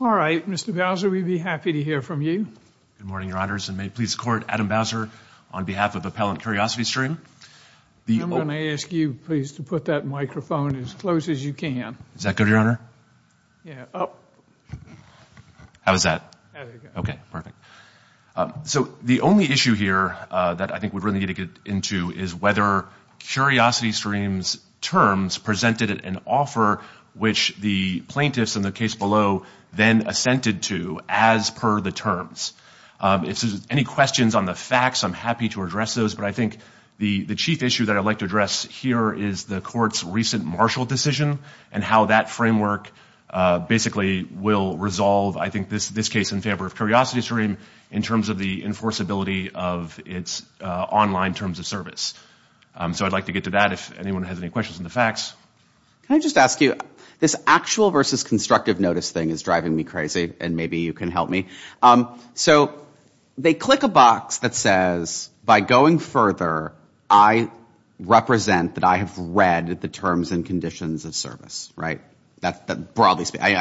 All right, Mr. Bowser, we'd be happy to hear from you. Good morning, Your Honors, and may it please the Court, Adam Bowser, on behalf of Appellant CuriosityStream. I'm going to ask you, please, to put that microphone as close as you can. Is that good, Your Honor? Yeah. How is that? There we go. Okay, perfect. So the only issue here that I think we really need to get into is whether CuriosityStream's terms presented an offer which the plaintiffs in the case below then assented to as per the terms. If there's any questions on the facts, I'm happy to address those, but I think the chief issue that I'd like to address here is the Court's recent Marshall decision and how that framework basically will resolve, I think, this case in favor of CuriosityStream in terms of the enforceability of its online terms of service. So I'd like to get to that if anyone has any questions on the facts. Can I just ask you, this actual versus constructive notice thing is driving me crazy, and maybe you can help me. So they click a box that says, by going further, I represent that I have read the terms and conditions of service. I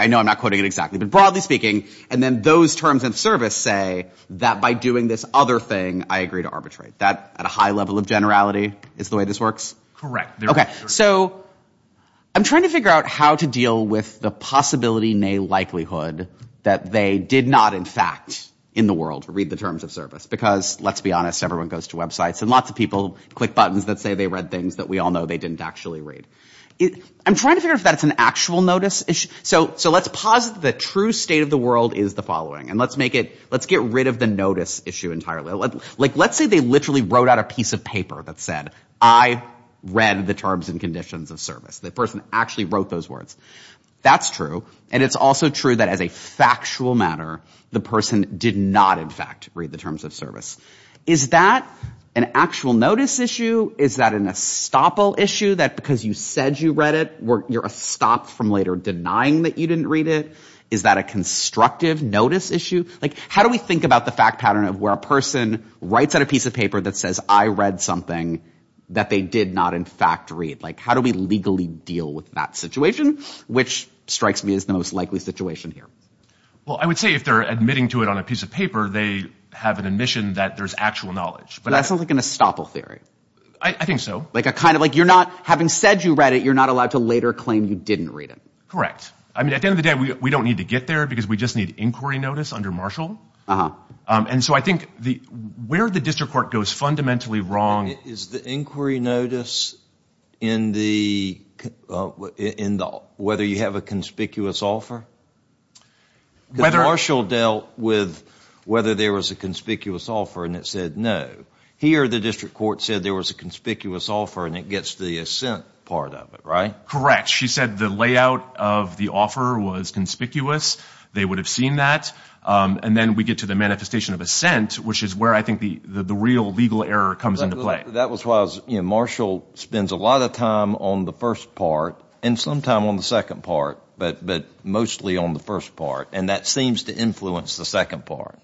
know I'm not quoting it exactly, but broadly speaking. And then those terms of service say that by doing this other thing, I agree to arbitrate. That, at a high level of generality, is the way this works? Correct. Okay, so I'm trying to figure out how to deal with the possibility, nay likelihood, that they did not, in fact, in the world, read the terms of service. Because, let's be honest, everyone goes to websites, and lots of people click buttons that say they read things that we all know they didn't actually read. I'm trying to figure out if that's an actual notice issue. So let's posit the true state of the world is the following. And let's make it, let's get rid of the notice issue entirely. Let's say they literally wrote out a piece of paper that said, I read the terms and conditions of service. The person actually wrote those words. That's true. And it's also true that, as a factual matter, the person did not, in fact, read the terms of service. Is that an actual notice issue? Is that an estoppel issue, that because you said you read it, you're estopped from later denying that you didn't read it? Is that a constructive notice issue? Like, how do we think about the fact pattern of where a person writes out a piece of paper that says, I read something that they did not, in fact, read? Like, how do we legally deal with that situation? Which strikes me as the most likely situation here. Well, I would say if they're admitting to it on a piece of paper, they have an admission that there's actual knowledge. But that sounds like an estoppel theory. I think so. Like a kind of, like you're not, having said you read it, you're not allowed to later claim you didn't read it. Correct. I mean, at the end of the day, we don't need to get there, because we just need inquiry notice under Marshall. And so I think where the district court goes fundamentally wrong. Is the inquiry notice in the, whether you have a conspicuous offer? Whether. Because Marshall dealt with whether there was a conspicuous offer, and it said no. Here the district court said there was a conspicuous offer, and it gets the assent part of it, right? Correct. She said the layout of the offer was conspicuous. They would have seen that. And then we get to the manifestation of assent, which is where I think the real legal error comes into play. That was why I was, you know, Marshall spends a lot of time on the first part, and some time on the second part, but mostly on the first part. And that seems to influence the second part.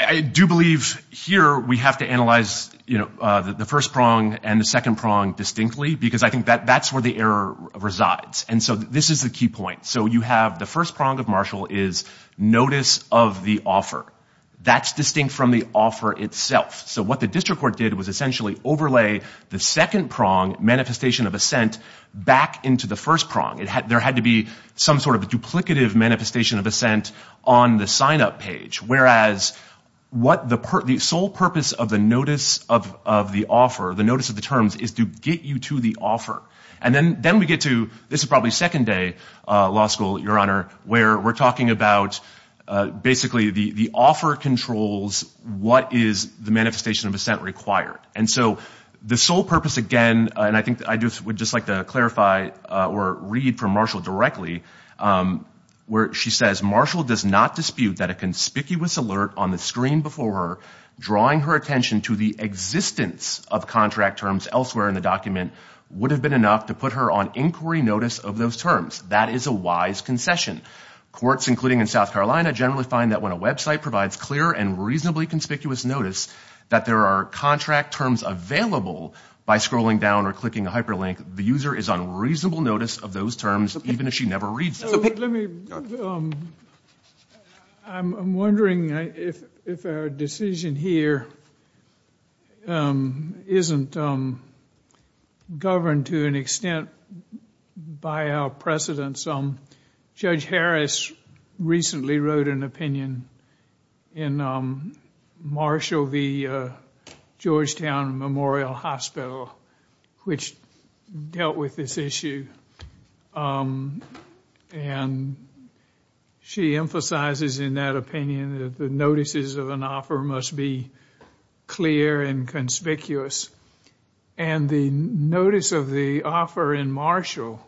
I do believe here we have to analyze, you know, the first prong and the second prong distinctly, because I think that's where the error resides. And so this is the key point. So you have the first prong of Marshall is notice of the offer. That's distinct from the offer itself. So what the district court did was essentially overlay the second prong, manifestation of assent, back into the first prong. There had to be some sort of duplicative manifestation of assent on the sign-up page. Whereas the sole purpose of the notice of the offer, the notice of the terms, is to get you to the offer. And then we get to, this is probably second day law school, Your Honor, where we're talking about basically the offer controls what is the manifestation of assent required. And so the sole purpose, again, and I think I would just like to clarify or read from Marshall directly, where she says, Marshall does not dispute that a conspicuous alert on the screen before her drawing her attention to the existence of contract terms elsewhere in the document would have been enough to put her on inquiry notice of those terms. That is a wise concession. Courts, including in South Carolina, generally find that when a website provides clear and reasonably conspicuous notice that there are contract terms available by scrolling down or clicking a hyperlink, the user is on reasonable notice of those terms even if she never reads them. Let me, I'm wondering if our decision here isn't governed to an extent by our precedents. Judge Harris recently wrote an opinion in Marshall v. Georgetown Memorial Hospital which dealt with this issue. And she emphasizes in that opinion that the notices of an offer must be clear and conspicuous. And the notice of the offer in Marshall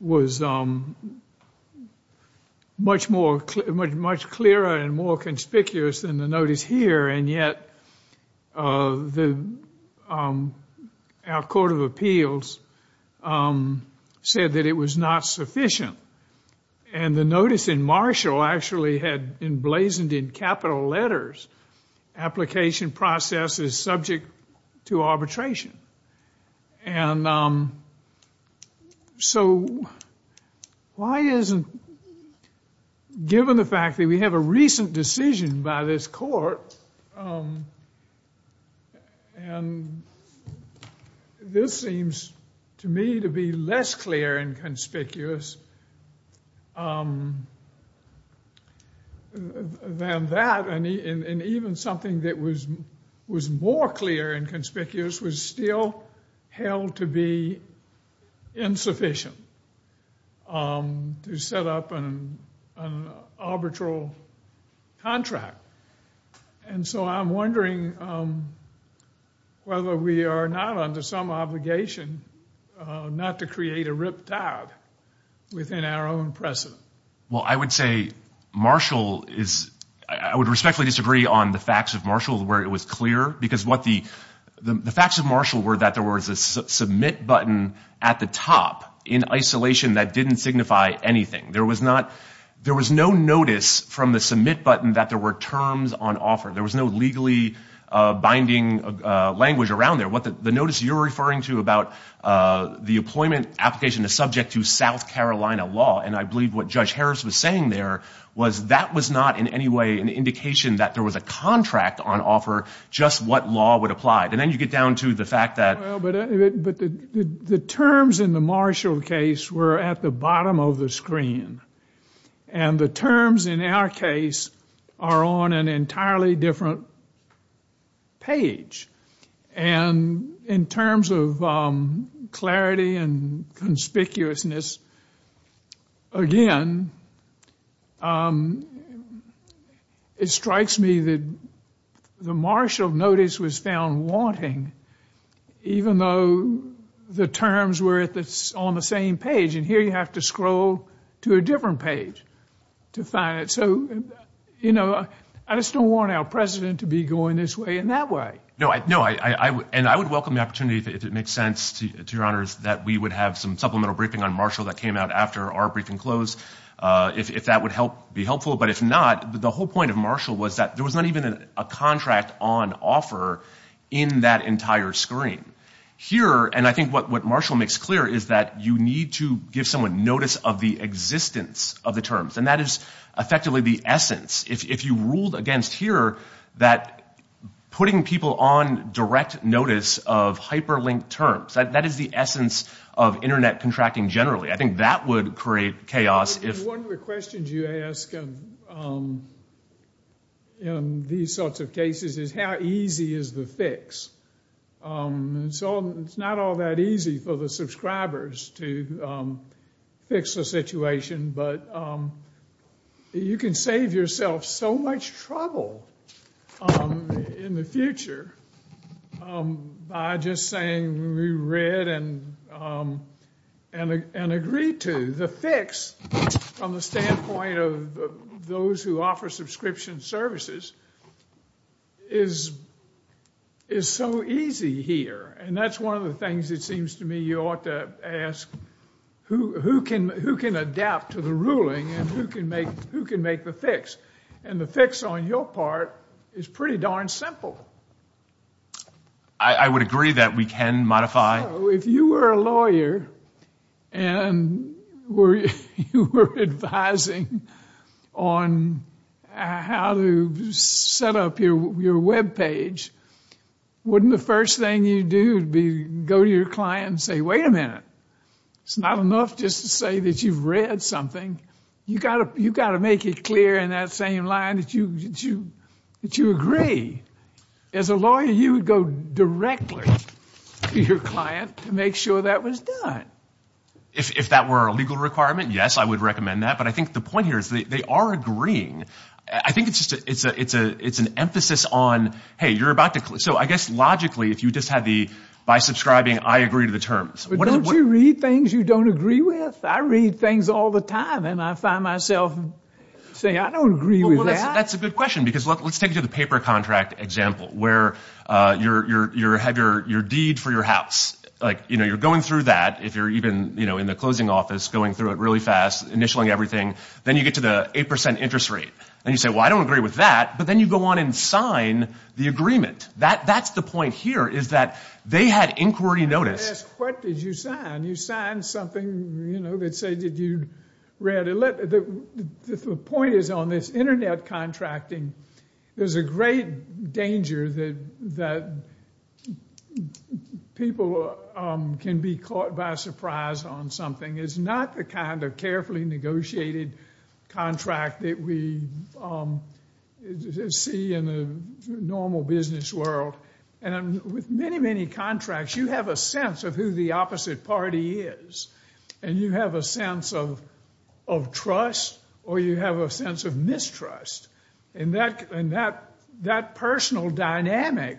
was much clearer and more conspicuous than the notice here. And yet, our Court of Appeals said that it was not sufficient. And the notice in Marshall actually had emblazoned in capital letters, application process is subject to arbitration. And so why isn't, given the fact that we have a recent decision by this court, and this seems to me to be less clear and conspicuous than that. And even something that was more clear and conspicuous was still held to be insufficient to set up an arbitral contract. And so I'm wondering whether we are not under some obligation not to create a ripped out within our own precedent. Well, I would say Marshall is, I would respectfully disagree on the facts of Marshall where it was clear. Because what the, the facts of Marshall were that there was a submit button at the top in isolation that didn't signify anything. There was not, there was no notice from the submit button that there were terms on offer. There was no legally binding language around there. The notice you're referring to about the employment application is subject to South Carolina law. And I believe what Judge Harris was saying there was that was not in any way an indication that there was a contract on offer, just what law would apply. And then you get down to the fact that. But the terms in the Marshall case were at the bottom of the screen. And the terms in our case are on an entirely different page. And in terms of clarity and conspicuousness, again, it strikes me that the Marshall notice was found wanting, even though the terms were on the same page. And here you have to scroll to a different page to find it. So, you know, I just don't want our president to be going this way and that way. No, no. And I would welcome the opportunity, if it makes sense to your honors, that we would have some supplemental briefing on Marshall that came out after our briefing closed, if that would be helpful. But if not, the whole point of Marshall was that there was not even a contract on offer in that entire screen. Here, and I think what Marshall makes clear is that you need to give someone notice of the existence of the terms. And that is effectively the essence. If you ruled against here that putting people on direct notice of hyperlinked terms, that is the essence of Internet contracting generally. I think that would create chaos. One of the questions you ask in these sorts of cases is how easy is the fix? It's not all that easy for the subscribers to fix the situation, but you can save yourself so much trouble in the future by just saying we read and agreed to. The fix, from the standpoint of those who offer subscription services, is so easy here. And that's one of the things it seems to me you ought to ask who can adapt to the ruling and who can make the fix. And the fix on your part is pretty darn simple. I would agree that we can modify. If you were a lawyer and you were advising on how to set up your web page, wouldn't the first thing you do be go to your client and say, wait a minute. It's not enough just to say that you've read something. You've got to make it clear in that same line that you agree. As a lawyer, you would go directly to your client to make sure that was done. If that were a legal requirement, yes, I would recommend that. But I think the point here is they are agreeing. I think it's an emphasis on, hey, you're about to – so I guess logically if you just had the by subscribing I agree to the terms. But don't you read things you don't agree with? I read things all the time and I find myself saying I don't agree with that. That's a good question because let's take the paper contract example where you have your deed for your house. You're going through that. If you're even in the closing office, going through it really fast, initialing everything. Then you get to the 8 percent interest rate. And you say, well, I don't agree with that. But then you go on and sign the agreement. That's the point here is that they had inquiry notice. What did you sign? You signed something that said that you read it. The point is on this internet contracting, there's a great danger that people can be caught by surprise on something. It's not the kind of carefully negotiated contract that we see in the normal business world. With many, many contracts you have a sense of who the opposite party is. And you have a sense of trust or you have a sense of mistrust. And that personal dynamic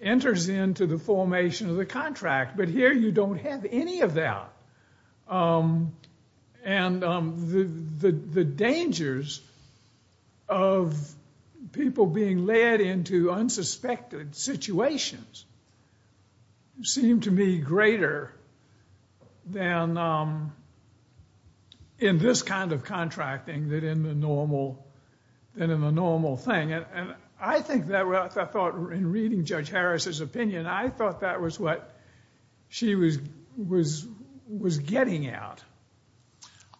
enters into the formation of the contract. But here you don't have any of that. And the dangers of people being led into unsuspected situations seem to me greater than in this kind of contracting than in the normal thing. And I think that in reading Judge Harris's opinion, I thought that was what she was getting at.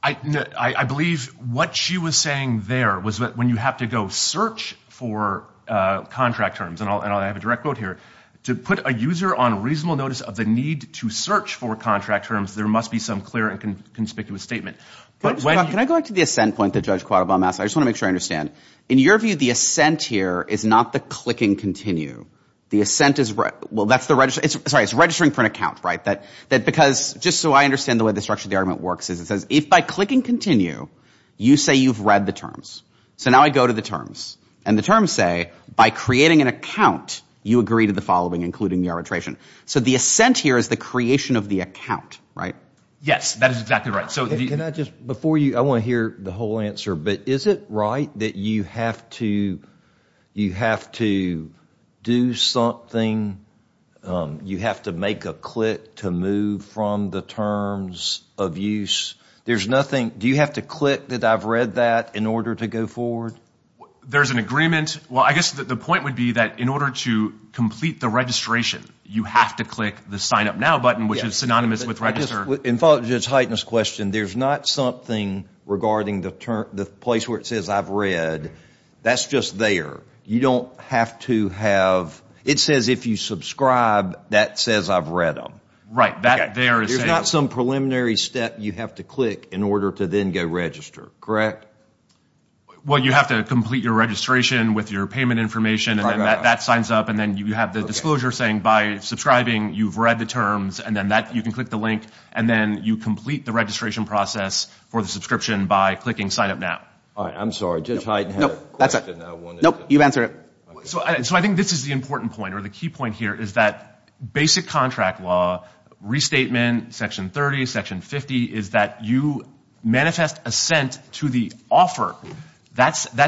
I believe what she was saying there was that when you have to go search for contract terms, and I'll have a direct quote here, to put a user on reasonable notice of the need to search for contract terms, there must be some clear and conspicuous statement. Can I go back to the ascent point that Judge Quattlebaum asked? I just want to make sure I understand. In your view, the ascent here is not the clicking continue. The ascent is registering for an account, right? Just so I understand the way the structure of the argument works is it says if by clicking continue, you say you've read the terms. So now I go to the terms. And the terms say by creating an account, you agree to the following, including the arbitration. So the ascent here is the creation of the account, right? Yes, that is exactly right. Before you, I want to hear the whole answer. But is it right that you have to do something, you have to make a click to move from the terms of use? There's nothing. Do you have to click that I've read that in order to go forward? There's an agreement. Well, I guess the point would be that in order to complete the registration, you have to click the sign up now button, which is synonymous with register. And to just heighten this question, there's not something regarding the place where it says I've read. That's just there. You don't have to have – it says if you subscribe, that says I've read them. Right. That there is saying – There's not some preliminary step you have to click in order to then go register, correct? Well, you have to complete your registration with your payment information, and then that signs up, and then you have the disclosure saying by subscribing, you've read the terms, and then you can click the link, and then you complete the registration process for the subscription by clicking sign up now. All right. I'm sorry. Just heighten the question. Nope. You've answered it. So I think this is the important point, or the key point here, is that basic contract law restatement, Section 30, Section 50, is that you manifest assent to the offer.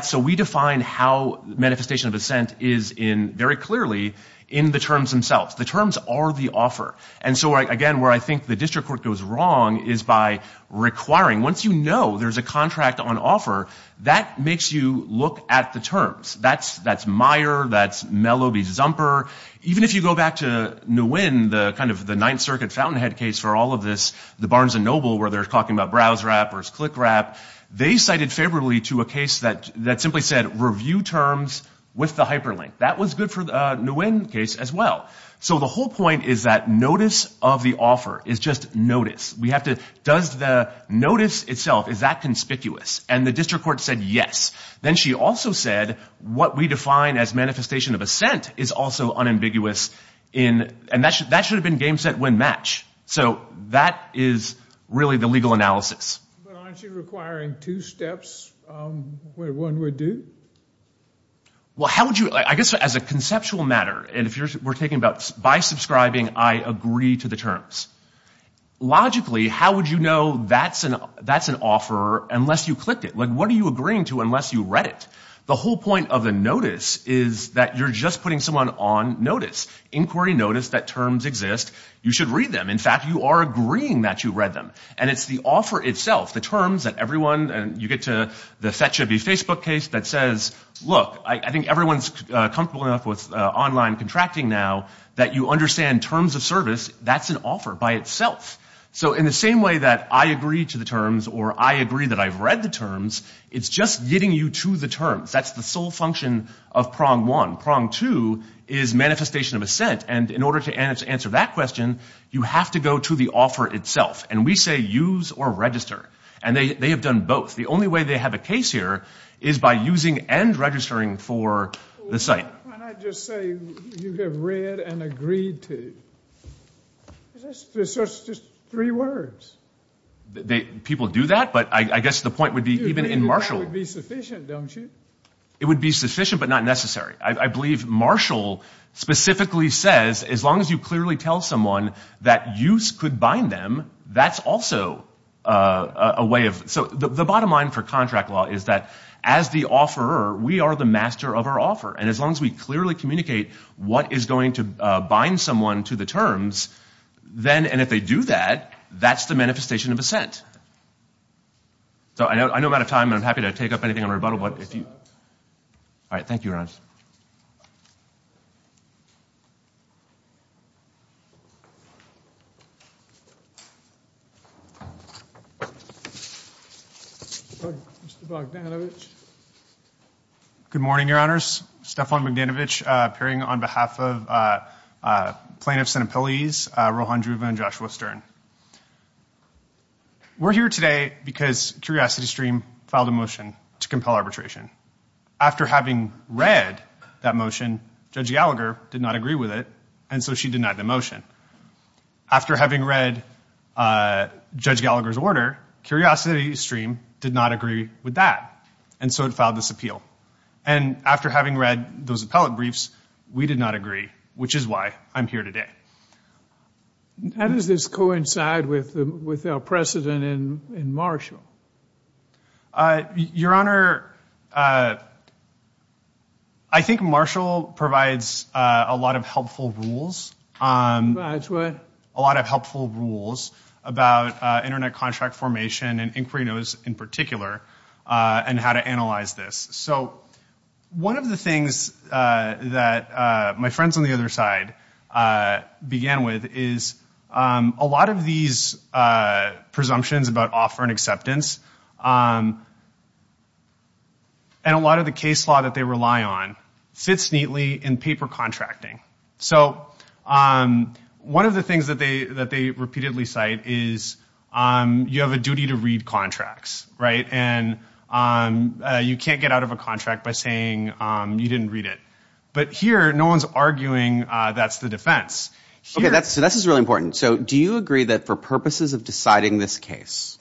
So we define how manifestation of assent is very clearly in the terms themselves. The terms are the offer. And so, again, where I think the district court goes wrong is by requiring – once you know there's a contract on offer, that makes you look at the terms. That's Meyer. That's Melloby-Zumper. Even if you go back to Nguyen, kind of the Ninth Circuit Fountainhead case for all of this, the Barnes and Noble where they're talking about browse wrappers, click wrap, they cited favorably to a case that simply said review terms with the hyperlink. That was good for the Nguyen case as well. So the whole point is that notice of the offer is just notice. We have to – does the notice itself, is that conspicuous? And the district court said yes. Then she also said what we define as manifestation of assent is also unambiguous in – and that should have been game, set, win, match. So that is really the legal analysis. But aren't you requiring two steps where one would do? Well, how would you – I guess as a conceptual matter, and if we're talking about by subscribing, I agree to the terms. Logically, how would you know that's an offer unless you clicked it? Like what are you agreeing to unless you read it? The whole point of the notice is that you're just putting someone on notice, inquiry notice that terms exist. You should read them. In fact, you are agreeing that you read them. And it's the offer itself, the terms that everyone – I agree to the Facebook case that says, look, I think everyone's comfortable enough with online contracting now that you understand terms of service. That's an offer by itself. So in the same way that I agree to the terms or I agree that I've read the terms, it's just getting you to the terms. That's the sole function of prong one. Prong two is manifestation of assent. And in order to answer that question, you have to go to the offer itself. And we say use or register. And they have done both. The only way they have a case here is by using and registering for the site. Why not just say you have read and agreed to? It's just three words. People do that, but I guess the point would be even in Marshall. That would be sufficient, don't you? It would be sufficient but not necessary. I believe Marshall specifically says as long as you clearly tell someone that use could bind them, that's also a way of – so the bottom line for contract law is that as the offerer, we are the master of our offer. And as long as we clearly communicate what is going to bind someone to the terms, and if they do that, that's the manifestation of assent. So I know I'm out of time, and I'm happy to take up anything on rebuttal. All right. Thank you, Your Honors. Mr. Bogdanovich. Good morning, Your Honors. Stefan Bogdanovich appearing on behalf of plaintiffs and appellees, Rohan Dhruva and Joshua Stern. We're here today because CuriosityStream filed a motion to compel arbitration. After having read that motion, Judge Gallagher did not agree with it, and so she denied the motion. After having read Judge Gallagher's order, CuriosityStream did not agree with that, and so it filed this appeal. And after having read those appellate briefs, we did not agree, which is why I'm here today. How does this coincide with our precedent in Marshall? Your Honor, I think Marshall provides a lot of helpful rules. Provides what? A lot of helpful rules about Internet contract formation and inquirinos in particular and how to analyze this. So one of the things that my friends on the other side began with is a lot of these presumptions about offer and acceptance and a lot of the case law that they rely on fits neatly in paper contracting. So one of the things that they repeatedly cite is you have a duty to read contracts, right, and you can't get out of a contract by saying you didn't read it. But here, no one's arguing that's the defense. Okay, so this is really important. So do you agree that for purposes of deciding this case,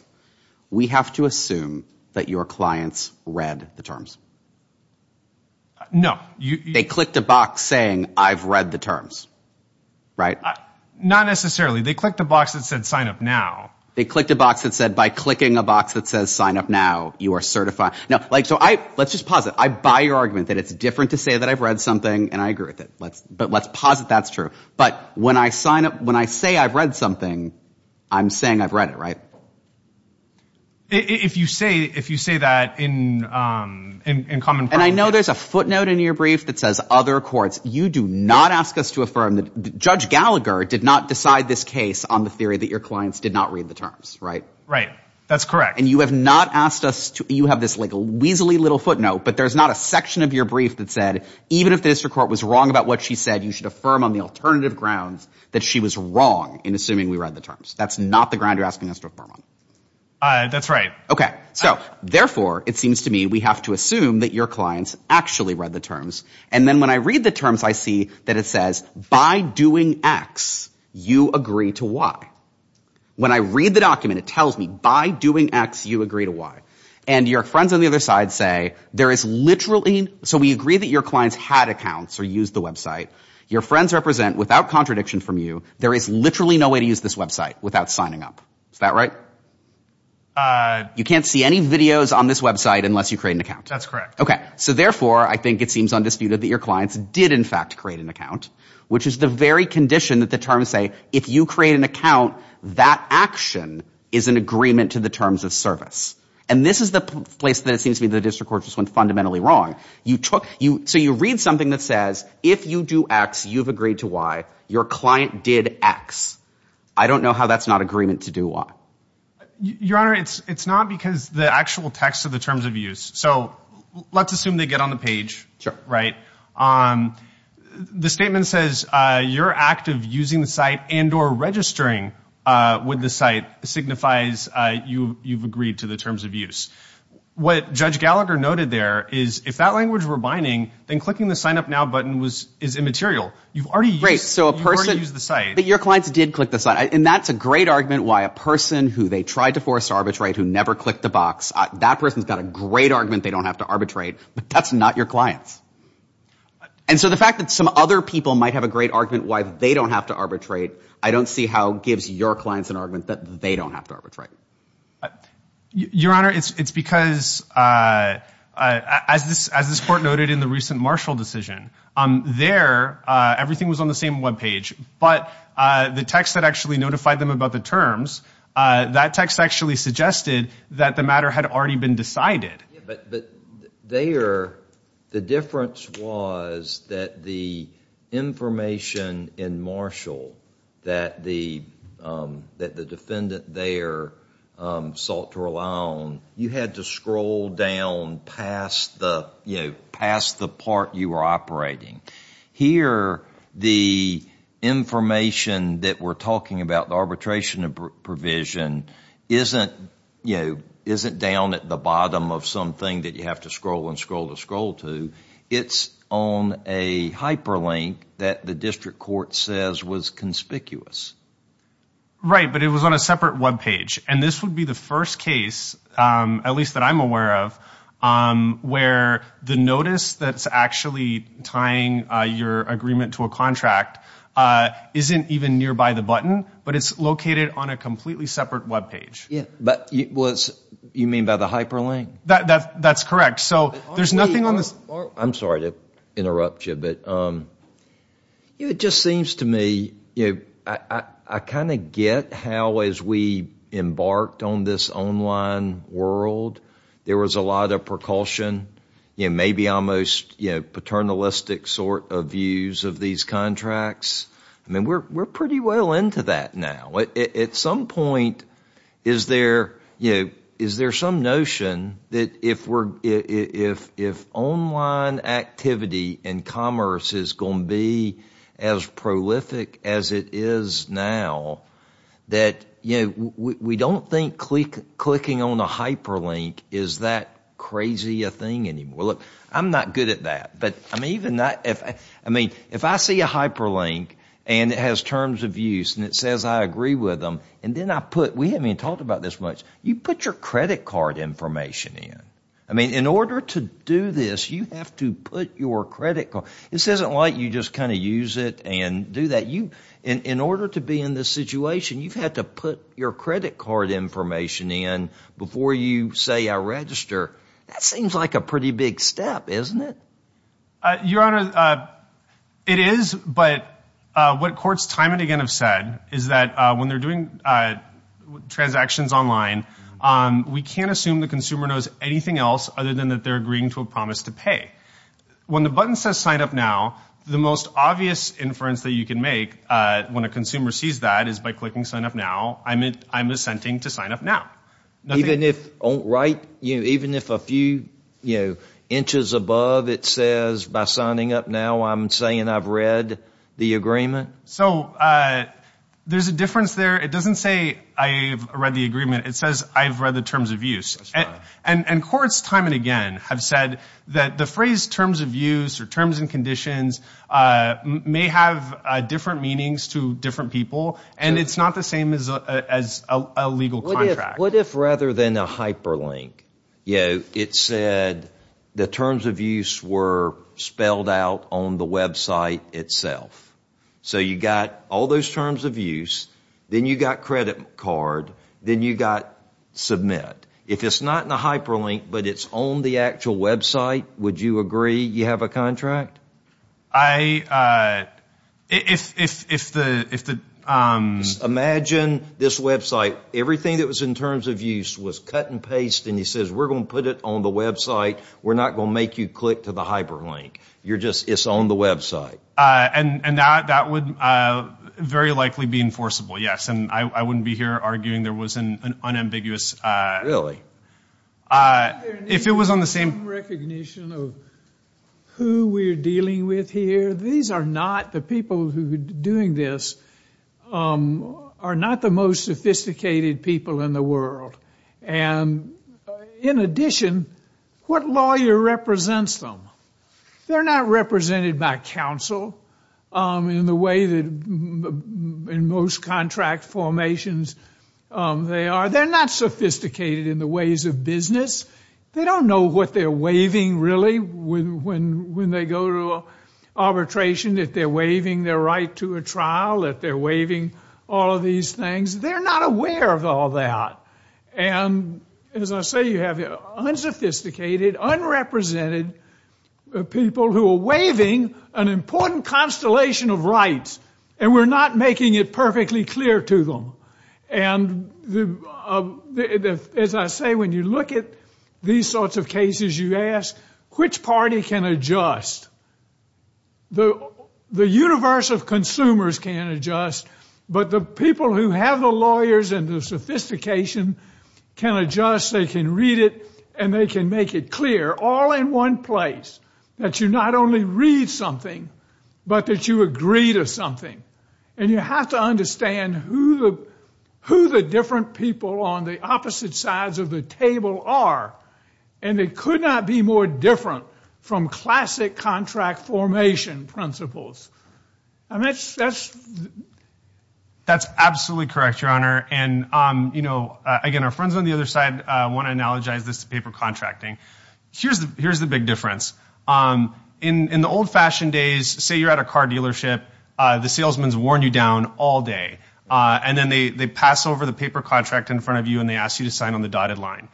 we have to assume that your clients read the terms? No. They clicked a box saying, I've read the terms, right? Not necessarily. They clicked a box that said sign up now. They clicked a box that said by clicking a box that says sign up now, you are certified. So let's just posit. I buy your argument that it's different to say that I've read something, and I agree with it. But let's posit that's true. But when I say I've read something, I'm saying I've read it, right? If you say that in common practice. And I know there's a footnote in your brief that says other courts. You do not ask us to affirm that Judge Gallagher did not decide this case on the theory that your clients did not read the terms, right? Right. That's correct. And you have not asked us to. You have this like a weaselly little footnote, but there's not a section of your brief that said even if the district court was wrong about what she said, you should affirm on the alternative grounds that she was wrong in assuming we read the terms. That's not the ground you're asking us to affirm on. That's right. Okay. So therefore, it seems to me we have to assume that your clients actually read the terms. And then when I read the terms, I see that it says by doing X, you agree to Y. When I read the document, it tells me by doing X, you agree to Y. And your friends on the other side say there is literally – so we agree that your clients had accounts or used the website. Your friends represent, without contradiction from you, there is literally no way to use this website without signing up. Is that right? You can't see any videos on this website unless you create an account. That's correct. Okay. So therefore, I think it seems undisputed that your clients did in fact create an account, which is the very condition that the terms say if you create an account, that action is an agreement to the terms of service. And this is the place that it seems to me the district court just went fundamentally wrong. So you read something that says if you do X, you've agreed to Y. Your client did X. I don't know how that's not agreement to do Y. Your Honor, it's not because the actual text of the terms of use. So let's assume they get on the page. The statement says your act of using the site and or registering with the site signifies you've agreed to the terms of use. What Judge Gallagher noted there is if that language were binding, then clicking the Sign Up Now button is immaterial. You've already used the site. But your clients did click the site. And that's a great argument why a person who they tried to force arbitrate, who never clicked the box, that person's got a great argument they don't have to arbitrate. But that's not your clients. And so the fact that some other people might have a great argument why they don't have to arbitrate, I don't see how it gives your clients an argument that they don't have to arbitrate. Your Honor, it's because as this court noted in the recent Marshall decision, there everything was on the same web page. But the text that actually notified them about the terms, that text actually suggested that the matter had already been decided. But there the difference was that the information in Marshall that the defendant there sought to rely on, you had to scroll down past the part you were operating. Here, the information that we're talking about, the arbitration provision, isn't down at the bottom of something that you have to scroll and scroll to scroll to. It's on a hyperlink that the district court says was conspicuous. Right, but it was on a separate web page. And this would be the first case, at least that I'm aware of, where the notice that's actually tying your agreement to a contract isn't even nearby the button, but it's located on a completely separate web page. You mean by the hyperlink? That's correct. I'm sorry to interrupt you, but it just seems to me, I kind of get how as we embarked on this online world, there was a lot of precaution, maybe almost paternalistic sort of views of these contracts. I mean, we're pretty well into that now. At some point, is there some notion that if online activity and commerce is going to be as prolific as it is now, that we don't think clicking on a hyperlink is that crazy a thing anymore? Look, I'm not good at that. But I mean, if I see a hyperlink and it has terms of use and it says I agree with them, and then I put, we haven't even talked about this much, you put your credit card information in. I mean, in order to do this, you have to put your credit card. This isn't like you just kind of use it and do that. In order to be in this situation, you've had to put your credit card information in before you say I register. That seems like a pretty big step, isn't it? Your Honor, it is. But what courts time and again have said is that when they're doing transactions online, we can't assume the consumer knows anything else other than that they're agreeing to a promise to pay. When the button says sign up now, the most obvious inference that you can make when a consumer sees that is by clicking sign up now, I'm assenting to sign up now. Even if a few inches above it says by signing up now I'm saying I've read the agreement? So there's a difference there. It doesn't say I've read the agreement. It says I've read the terms of use. Courts time and again have said that the phrase terms of use or terms and conditions may have different meanings to different people, and it's not the same as a legal contract. What if rather than a hyperlink, it said the terms of use were spelled out on the website itself? So you've got all those terms of use. Then you've got credit card. Then you've got submit. If it's not in a hyperlink but it's on the actual website, would you agree you have a contract? Imagine this website. Everything that was in terms of use was cut and paste, and he says we're going to put it on the website. We're not going to make you click to the hyperlink. It's on the website. And that would very likely be enforceable, yes, and I wouldn't be here arguing there was an unambiguous. If it was on the same. Recognition of who we're dealing with here. These are not the people who are doing this are not the most sophisticated people in the world. And in addition, what lawyer represents them? They're not represented by counsel in the way that in most contract formations they are. They're not sophisticated in the ways of business. They don't know what they're waiving really when they go to arbitration, if they're waiving their right to a trial, if they're waiving all of these things. They're not aware of all that. And as I say, you have unsophisticated, unrepresented people who are waiving an important constellation of rights, and we're not making it perfectly clear to them. And as I say, when you look at these sorts of cases, you ask which party can adjust. The universe of consumers can adjust, but the people who have the lawyers and the sophistication can adjust. They can read it, and they can make it clear, all in one place, that you not only read something, but that you agree to something. And you have to understand who the different people on the opposite sides of the table are, and they could not be more different from classic contract formation principles. That's absolutely correct, Your Honor. And, you know, again, our friends on the other side want to analogize this to paper contracting. Here's the big difference. In the old-fashioned days, say you're at a car dealership, the salesman's worn you down all day, and then they pass over the paper contract in front of you, and they ask you to sign on the dotted line.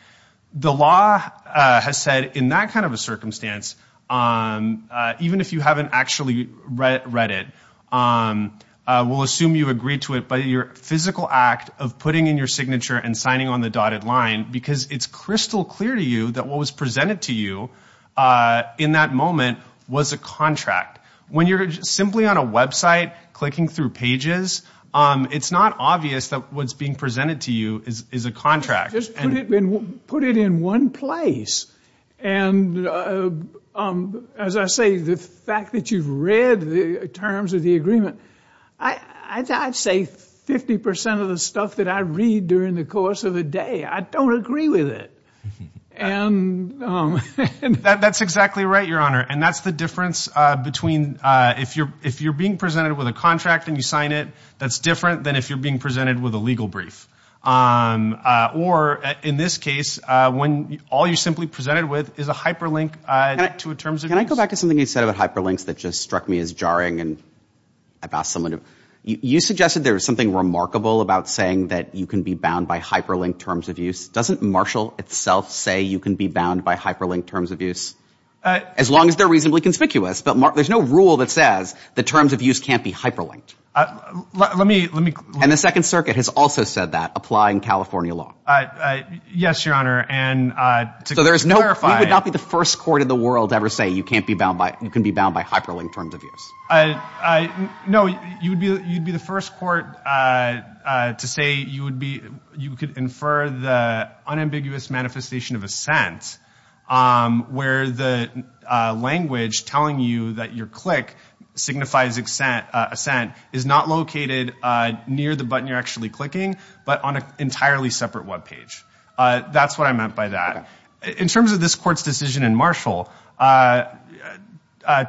The law has said in that kind of a circumstance, even if you haven't actually read it, we'll assume you agree to it by your physical act of putting in your signature and signing on the dotted line, because it's crystal clear to you that what was presented to you in that moment was a contract. When you're simply on a website clicking through pages, it's not obvious that what's being presented to you is a contract. Just put it in one place, and, as I say, the fact that you've read the terms of the agreement, I'd say 50 percent of the stuff that I read during the course of the day, I don't agree with it. That's exactly right, Your Honor, and that's the difference between if you're being presented with a contract and you sign it, that's different than if you're being presented with a legal brief. Or, in this case, when all you're simply presented with is a hyperlink to a terms of use. Can I go back to something you said about hyperlinks that just struck me as jarring? You suggested there was something remarkable about saying that you can be bound by hyperlinked terms of use. Doesn't Marshall itself say you can be bound by hyperlinked terms of use, as long as they're reasonably conspicuous? But there's no rule that says the terms of use can't be hyperlinked. And the Second Circuit has also said that, applying California law. Yes, Your Honor. So there's no – we would not be the first court in the world to ever say you can be bound by hyperlinked terms of use. No, you'd be the first court to say you could infer the unambiguous manifestation of assent, where the language telling you that your click signifies assent is not located near the button you're actually clicking, but on an entirely separate web page. That's what I meant by that. In terms of this Court's decision in Marshall, to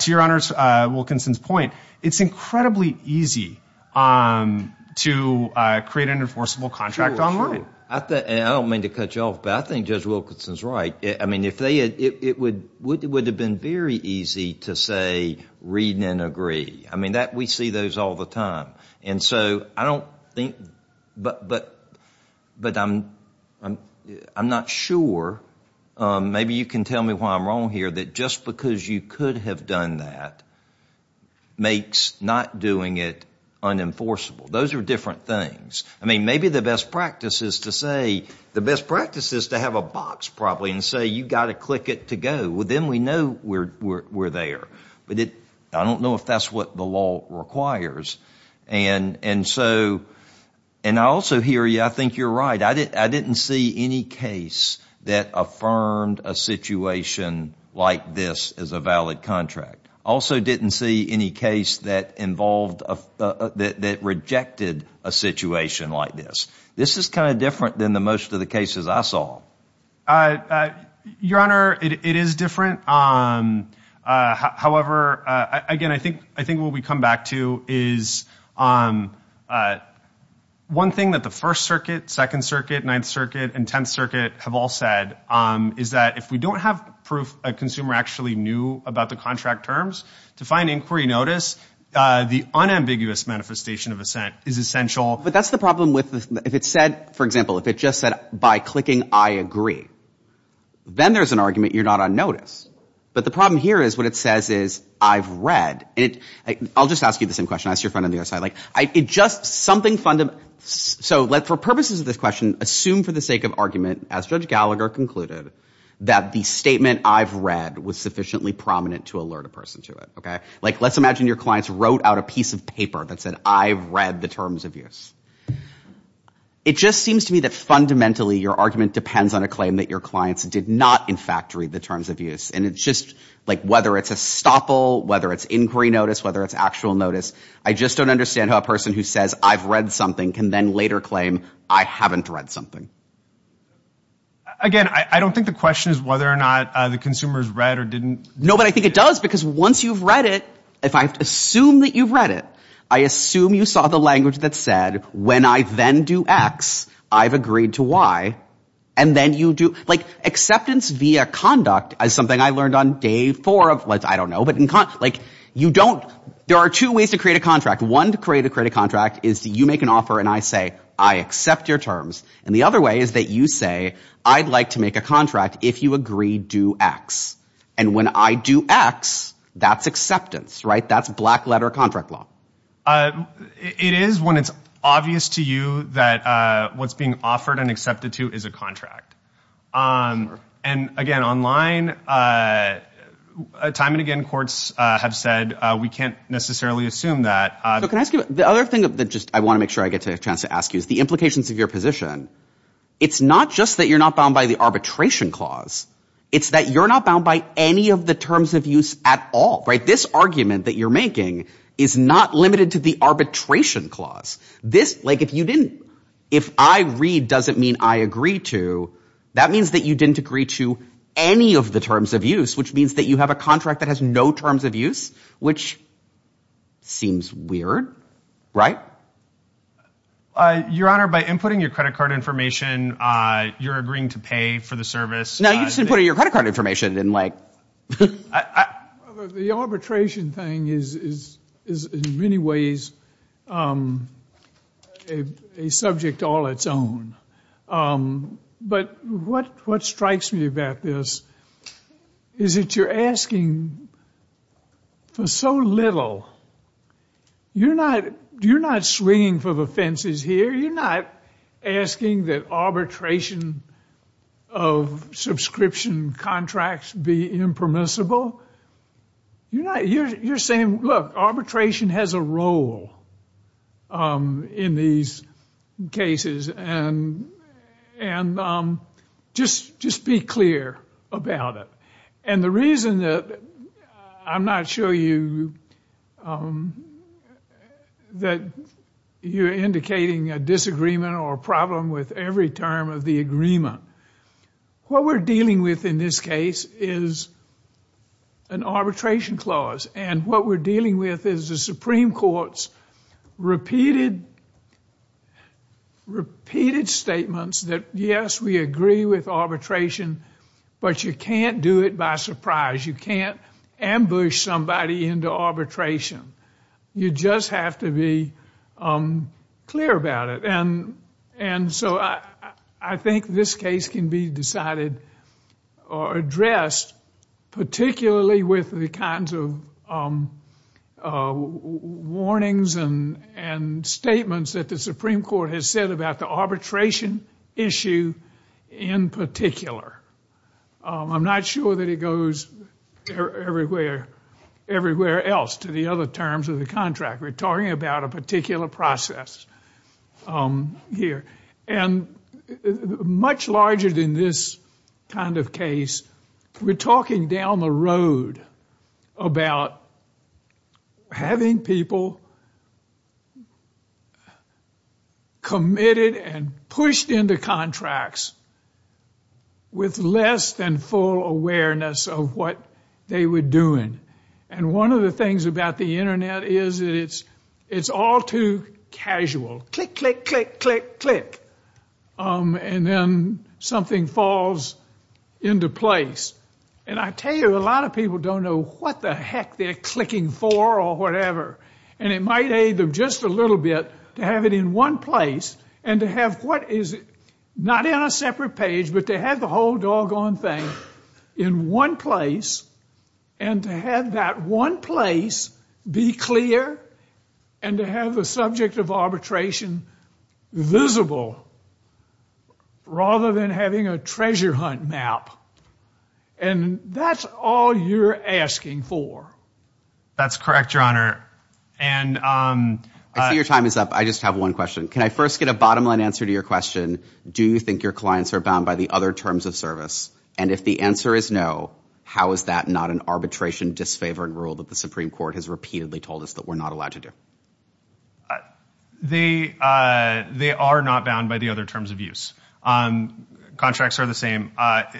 Your Honor Wilkinson's point, it's incredibly easy to create an enforceable contract online. I don't mean to cut you off, but I think Judge Wilkinson's right. I mean, it would have been very easy to say read and agree. I mean, we see those all the time. And so I don't think – but I'm not sure, maybe you can tell me why I'm wrong here, that just because you could have done that makes not doing it unenforceable. Those are different things. I mean, maybe the best practice is to say – the best practice is to have a box probably and say you've got to click it to go. Then we know we're there. But I don't know if that's what the law requires. And so – and I also hear you. I think you're right. I didn't see any case that affirmed a situation like this as a valid contract. I also didn't see any case that involved – that rejected a situation like this. This is kind of different than most of the cases I saw. Your Honor, it is different. However, again, I think what we come back to is one thing that the First Circuit, Second Circuit, Ninth Circuit, and Tenth Circuit have all said is that if we don't have proof a consumer actually knew about the contract terms, to find inquiry notice, the unambiguous manifestation of assent is essential. But that's the problem with – if it said, for example, if it just said by clicking I agree, then there's an argument you're not on notice. But the problem here is what it says is I've read. I'll just ask you the same question. I'll ask your friend on the other side. Like, it just – something – so for purposes of this question, assume for the sake of argument, as Judge Gallagher concluded, that the statement I've read was sufficiently prominent to alert a person to it, okay? Like, let's imagine your clients wrote out a piece of paper that said I've read the terms of use. It just seems to me that fundamentally your argument depends on a claim that your clients did not, in fact, read the terms of use. And it's just – like, whether it's a stopple, whether it's inquiry notice, whether it's actual notice, I just don't understand how a person who says I've read something can then later claim I haven't read something. Again, I don't think the question is whether or not the consumers read or didn't. No, but I think it does because once you've read it, if I assume that you've read it, I assume you saw the language that said when I then do X, I've agreed to Y. And then you do – like, acceptance via conduct is something I learned on day four of – like, I don't know, but in – like, you don't – there are two ways to create a contract. One to create a contract is you make an offer and I say I accept your terms. And the other way is that you say I'd like to make a contract if you agree do X. And when I do X, that's acceptance, right? That's black-letter contract law. It is when it's obvious to you that what's being offered and accepted to is a contract. And again, online, time and again courts have said we can't necessarily assume that. So can I ask you – the other thing that just I want to make sure I get a chance to ask you is the implications of your position. It's not just that you're not bound by the arbitration clause. It's that you're not bound by any of the terms of use at all, right? This argument that you're making is not limited to the arbitration clause. This – like, if you didn't – if I read doesn't mean I agree to, that means that you didn't agree to any of the terms of use, which means that you have a contract that has no terms of use, which seems weird, right? Your Honor, by inputting your credit card information, you're agreeing to pay for the service. Now, you shouldn't put in your credit card information and like – The arbitration thing is in many ways a subject all its own. But what strikes me about this is that you're asking for so little. You're not swinging for the fences here. You're not asking that arbitration of subscription contracts be impermissible. You're saying, look, arbitration has a role in these cases and just be clear about it. And the reason that I'm not sure you – that you're indicating a disagreement or a problem with every term of the agreement, what we're dealing with in this case is an arbitration clause and what we're dealing with is the Supreme Court's repeated statements that, yes, we agree with arbitration, but you can't do it by surprise. You can't ambush somebody into arbitration. You just have to be clear about it. And so I think this case can be decided or addressed, particularly with the kinds of warnings and statements that the Supreme Court has said about the arbitration issue in particular. I'm not sure that it goes everywhere else to the other terms of the contract. We're talking about a particular process here. And much larger than this kind of case, we're talking down the road about having people committed and pushed into contracts with less than full awareness of what they were doing. And one of the things about the Internet is that it's all too casual. Click, click, click, click, click. And then something falls into place. And I tell you, a lot of people don't know what the heck they're clicking for or whatever. And it might aid them just a little bit to have it in one place and to have what is not in a separate page, but to have the whole doggone thing in one place and to have that one place be clear and to have the subject of arbitration visible rather than having a treasure hunt map. And that's all you're asking for. That's correct, Your Honor. I see your time is up. I just have one question. Can I first get a bottom-line answer to your question? Do you think your clients are bound by the other terms of service? And if the answer is no, how is that not an arbitration-disfavored rule that the Supreme Court has repeatedly told us that we're not allowed to do? They are not bound by the other terms of use. Contracts are the same.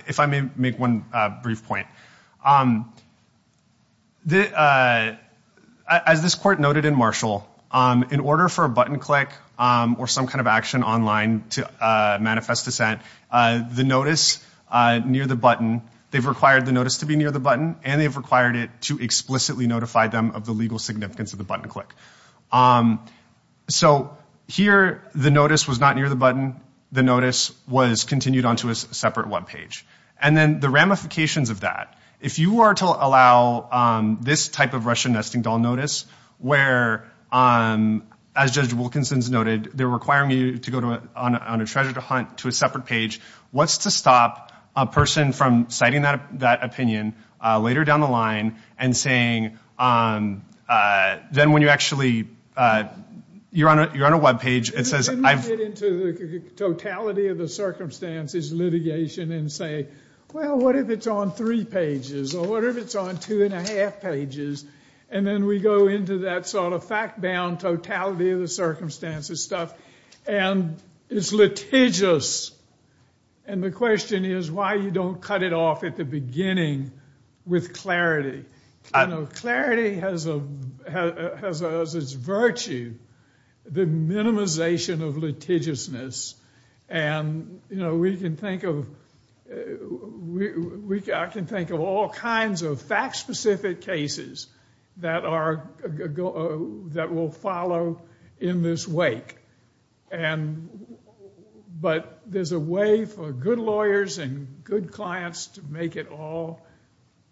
If I may make one brief point. As this Court noted in Marshall, in order for a button click or some kind of action online to manifest dissent, the notice near the button, they've required the notice to be near the button and they've required it to explicitly notify them of the legal significance of the button click. So here the notice was not near the button. The notice was continued onto a separate web page. And then the ramifications of that, if you were to allow this type of Russian nesting doll notice, where, as Judge Wilkinson's noted, they're requiring you to go on a treasure hunt to a separate page, what's to stop a person from citing that opinion later down the line and saying, then when you actually, you're on a web page, it says, Let me get into the totality of the circumstances litigation and say, well, what if it's on three pages or what if it's on two and a half pages? And then we go into that sort of fact-bound totality of the circumstances stuff and it's litigious. And the question is why you don't cut it off at the beginning with clarity. I know clarity has its virtue, the minimization of litigiousness. And, you know, we can think of, I can think of all kinds of fact-specific cases that are, that will follow in this wake. And, but there's a way for good lawyers and good clients to make it all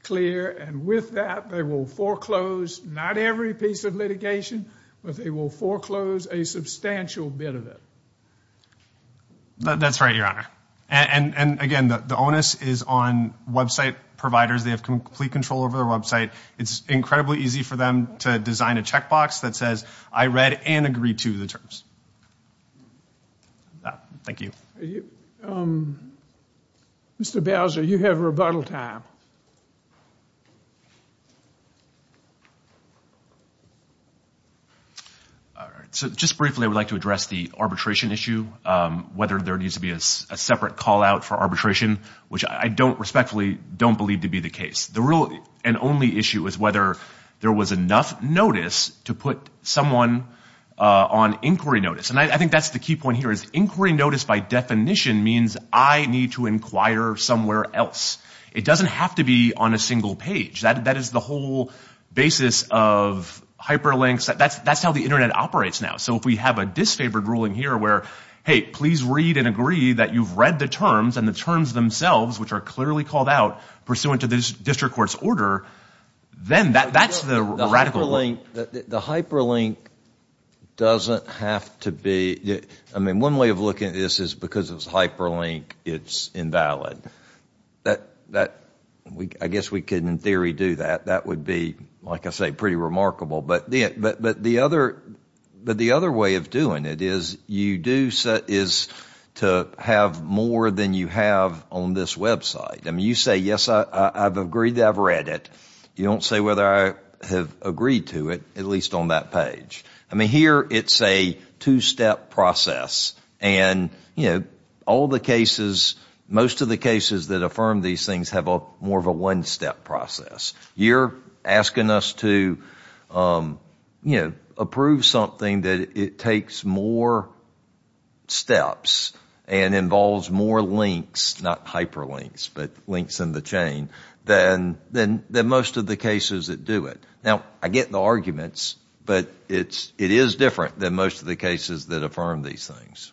clear. And with that, they will foreclose not every piece of litigation, but they will foreclose a substantial bit of it. That's right, Your Honor. And, again, the onus is on website providers. They have complete control over their website. It's incredibly easy for them to design a checkbox that says, I read and agree to the terms. Thank you. Mr. Bowser, you have rebuttal time. All right. So just briefly I would like to address the arbitration issue, whether there needs to be a separate call-out for arbitration, which I respectfully don't believe to be the case. The real and only issue is whether there was enough notice to put someone on inquiry notice. And I think that's the key point here is inquiry notice, by definition, means I need to inquire somewhere else. It doesn't have to be on a single page. That is the whole basis of hyperlinks. That's how the Internet operates now. So if we have a disfavored ruling here where, hey, please read and agree that you've read the terms, and the terms themselves, which are clearly called out, pursuant to the district court's order, then that's the radical rule. I mean, the hyperlink doesn't have to be ‑‑ I mean, one way of looking at this is because it's hyperlink, it's invalid. I guess we can, in theory, do that. That would be, like I say, pretty remarkable. But the other way of doing it is to have more than you have on this Web site. I mean, you say, yes, I've agreed that I've read it. You don't say whether I have agreed to it, at least on that page. I mean, here it's a two‑step process. And all the cases, most of the cases that affirm these things have more of a one‑step process. You're asking us to approve something that it takes more steps and involves more links, not hyperlinks, but links in the chain, than most of the cases that do it. Now, I get the arguments, but it is different than most of the cases that affirm these things.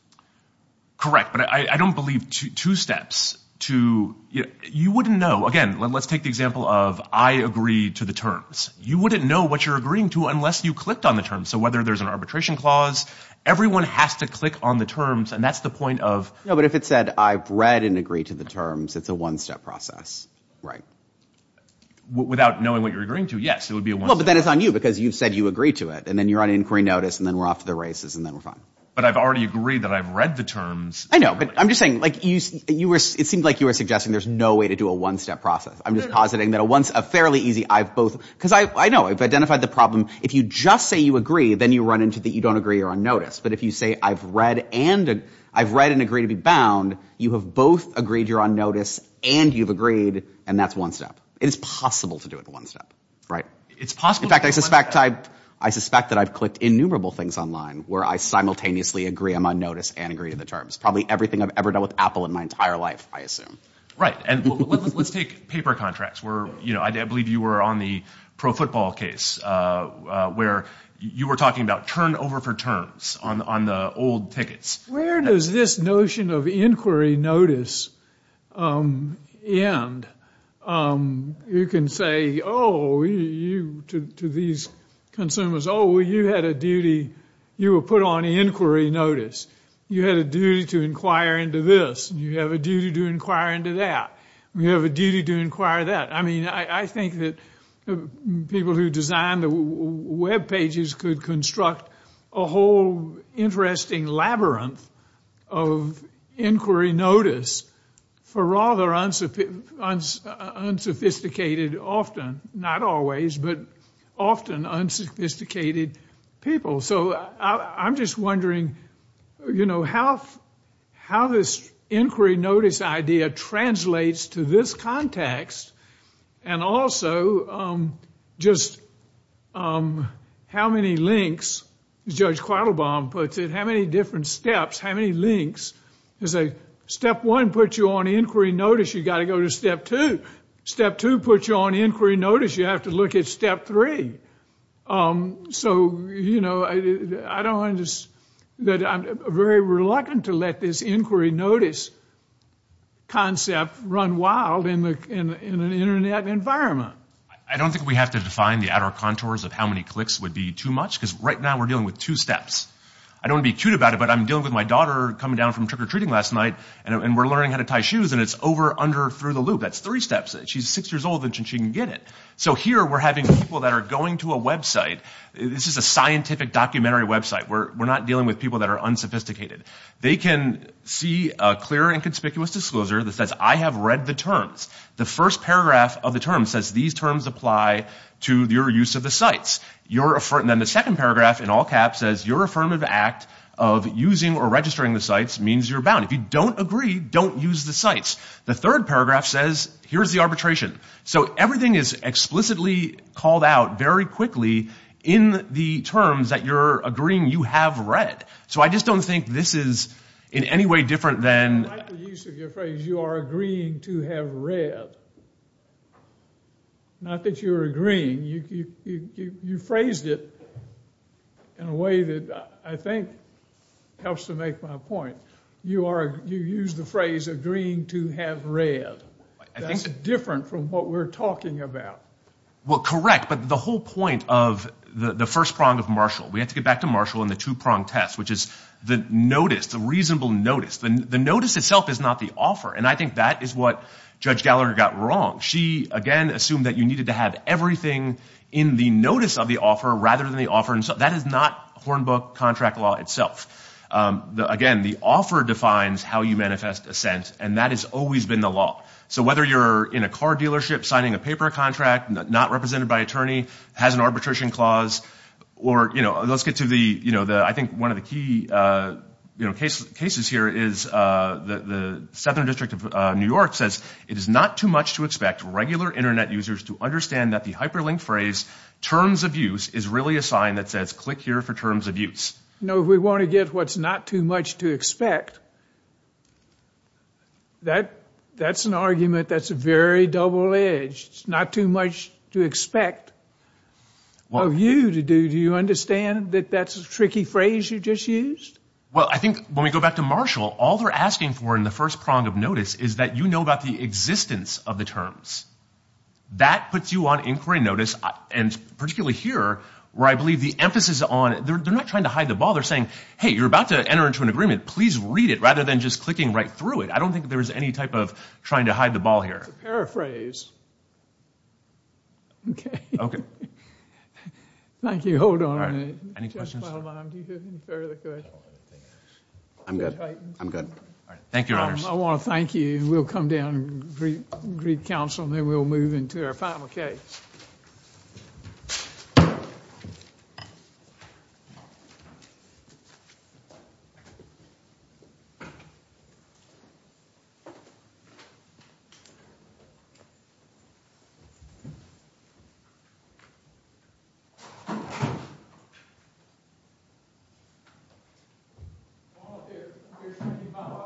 Correct, but I don't believe two steps to ‑‑ you wouldn't know, again, let's take the example of I agree to the terms. You wouldn't know what you're agreeing to unless you clicked on the terms. So whether there's an arbitration clause, everyone has to click on the terms, and that's the point of ‑‑ No, but if it said, I've read and agree to the terms, it's a one‑step process. Without knowing what you're agreeing to, yes, it would be a one‑step process. Well, but then it's on you, because you said you agree to it, and then you're on inquiry notice, and then we're off to the races, and then we're fine. But I've already agreed that I've read the terms. I know, but I'm just saying, it seemed like you were suggesting there's no way to do a one‑step process. I'm just positing that a fairly easy, I've both, because I know, I've identified the problem, if you just say you agree, then you run into that you don't agree, you're on notice. But if you say, I've read and agree to be bound, you have both agreed you're on notice and you've agreed, and that's one step. It is possible to do it in one step, right? In fact, I suspect that I've clicked innumerable things online where I simultaneously agree I'm on notice and agree to the terms. Probably everything I've ever done with Apple in my entire life, I assume. Right. And let's take paper contracts where, you know, I believe you were on the pro football case where you were talking about turning over for terms on the old tickets. Where does this notion of inquiry notice end? You can say, oh, to these consumers, oh, you had a duty, you were put on inquiry notice. You had a duty to inquire into this. You have a duty to inquire into that. You have a duty to inquire that. I mean, I think that people who design the web pages could construct a whole interesting labyrinth of inquiry notice for rather unsophisticated often, not always, but often unsophisticated people. So I'm just wondering, you know, how this inquiry notice idea translates to this context and also just how many links, as Judge Quattlebaum puts it, how many different steps, how many links? Step one puts you on inquiry notice. You've got to go to step two. Step two puts you on inquiry notice. You have to look at step three. So, you know, I don't understand that I'm very reluctant to let this inquiry notice concept run wild in an Internet environment. I don't think we have to define the outer contours of how many clicks would be too much because right now we're dealing with two steps. I don't want to be cute about it, but I'm dealing with my daughter coming down from trick-or-treating last night and we're learning how to tie shoes and it's over, under, through the loop. That's three steps. She's six years old and she can get it. So here we're having people that are going to a website. This is a scientific documentary website. We're not dealing with people that are unsophisticated. They can see a clear and conspicuous disclosure that says, I have read the terms. The first paragraph of the term says these terms apply to your use of the sites. Then the second paragraph in all caps says your affirmative act of using or registering the sites means you're bound. If you don't agree, don't use the sites. The third paragraph says here's the arbitration. So everything is explicitly called out very quickly in the terms that you're agreeing you have read. So I just don't think this is in any way different than. I like the use of your phrase, you are agreeing to have read. Not that you're agreeing. You phrased it in a way that I think helps to make my point. You use the phrase agreeing to have read. That's different from what we're talking about. Well, correct. But the whole point of the first prong of Marshall, we have to get back to Marshall and the two-prong test, which is the notice, the reasonable notice. The notice itself is not the offer. And I think that is what Judge Gallagher got wrong. She, again, assumed that you needed to have everything in the notice of the offer rather than the offer. That is not Hornbook contract law itself. Again, the offer defines how you manifest assent, and that has always been the law. So whether you're in a car dealership signing a paper contract, not represented by attorney, has an arbitration clause, or let's get to the I think one of the key cases here is the Southern District of New York says, it is not too much to expect regular Internet users to understand that the hyperlink phrase terms of use is really a sign that says click here for terms of use. You know, if we want to get what's not too much to expect, that's an argument that's very double-edged. It's not too much to expect of you to do. Do you understand that that's a tricky phrase you just used? Well, I think when we go back to Marshall, all they're asking for in the first prong of notice is that you know about the existence of the terms. That puts you on inquiry notice, and particularly here, where I believe the emphasis on, they're not trying to hide the ball. They're saying, hey, you're about to enter into an agreement. Please read it, rather than just clicking right through it. I don't think there's any type of trying to hide the ball here. It's a paraphrase. Okay. Okay. Thank you. Hold on a minute. Any questions? I'm good. I'm good. Thank you, Your Honors. I want to thank you, and we'll come down and greet counsel, and then we'll move into our final case.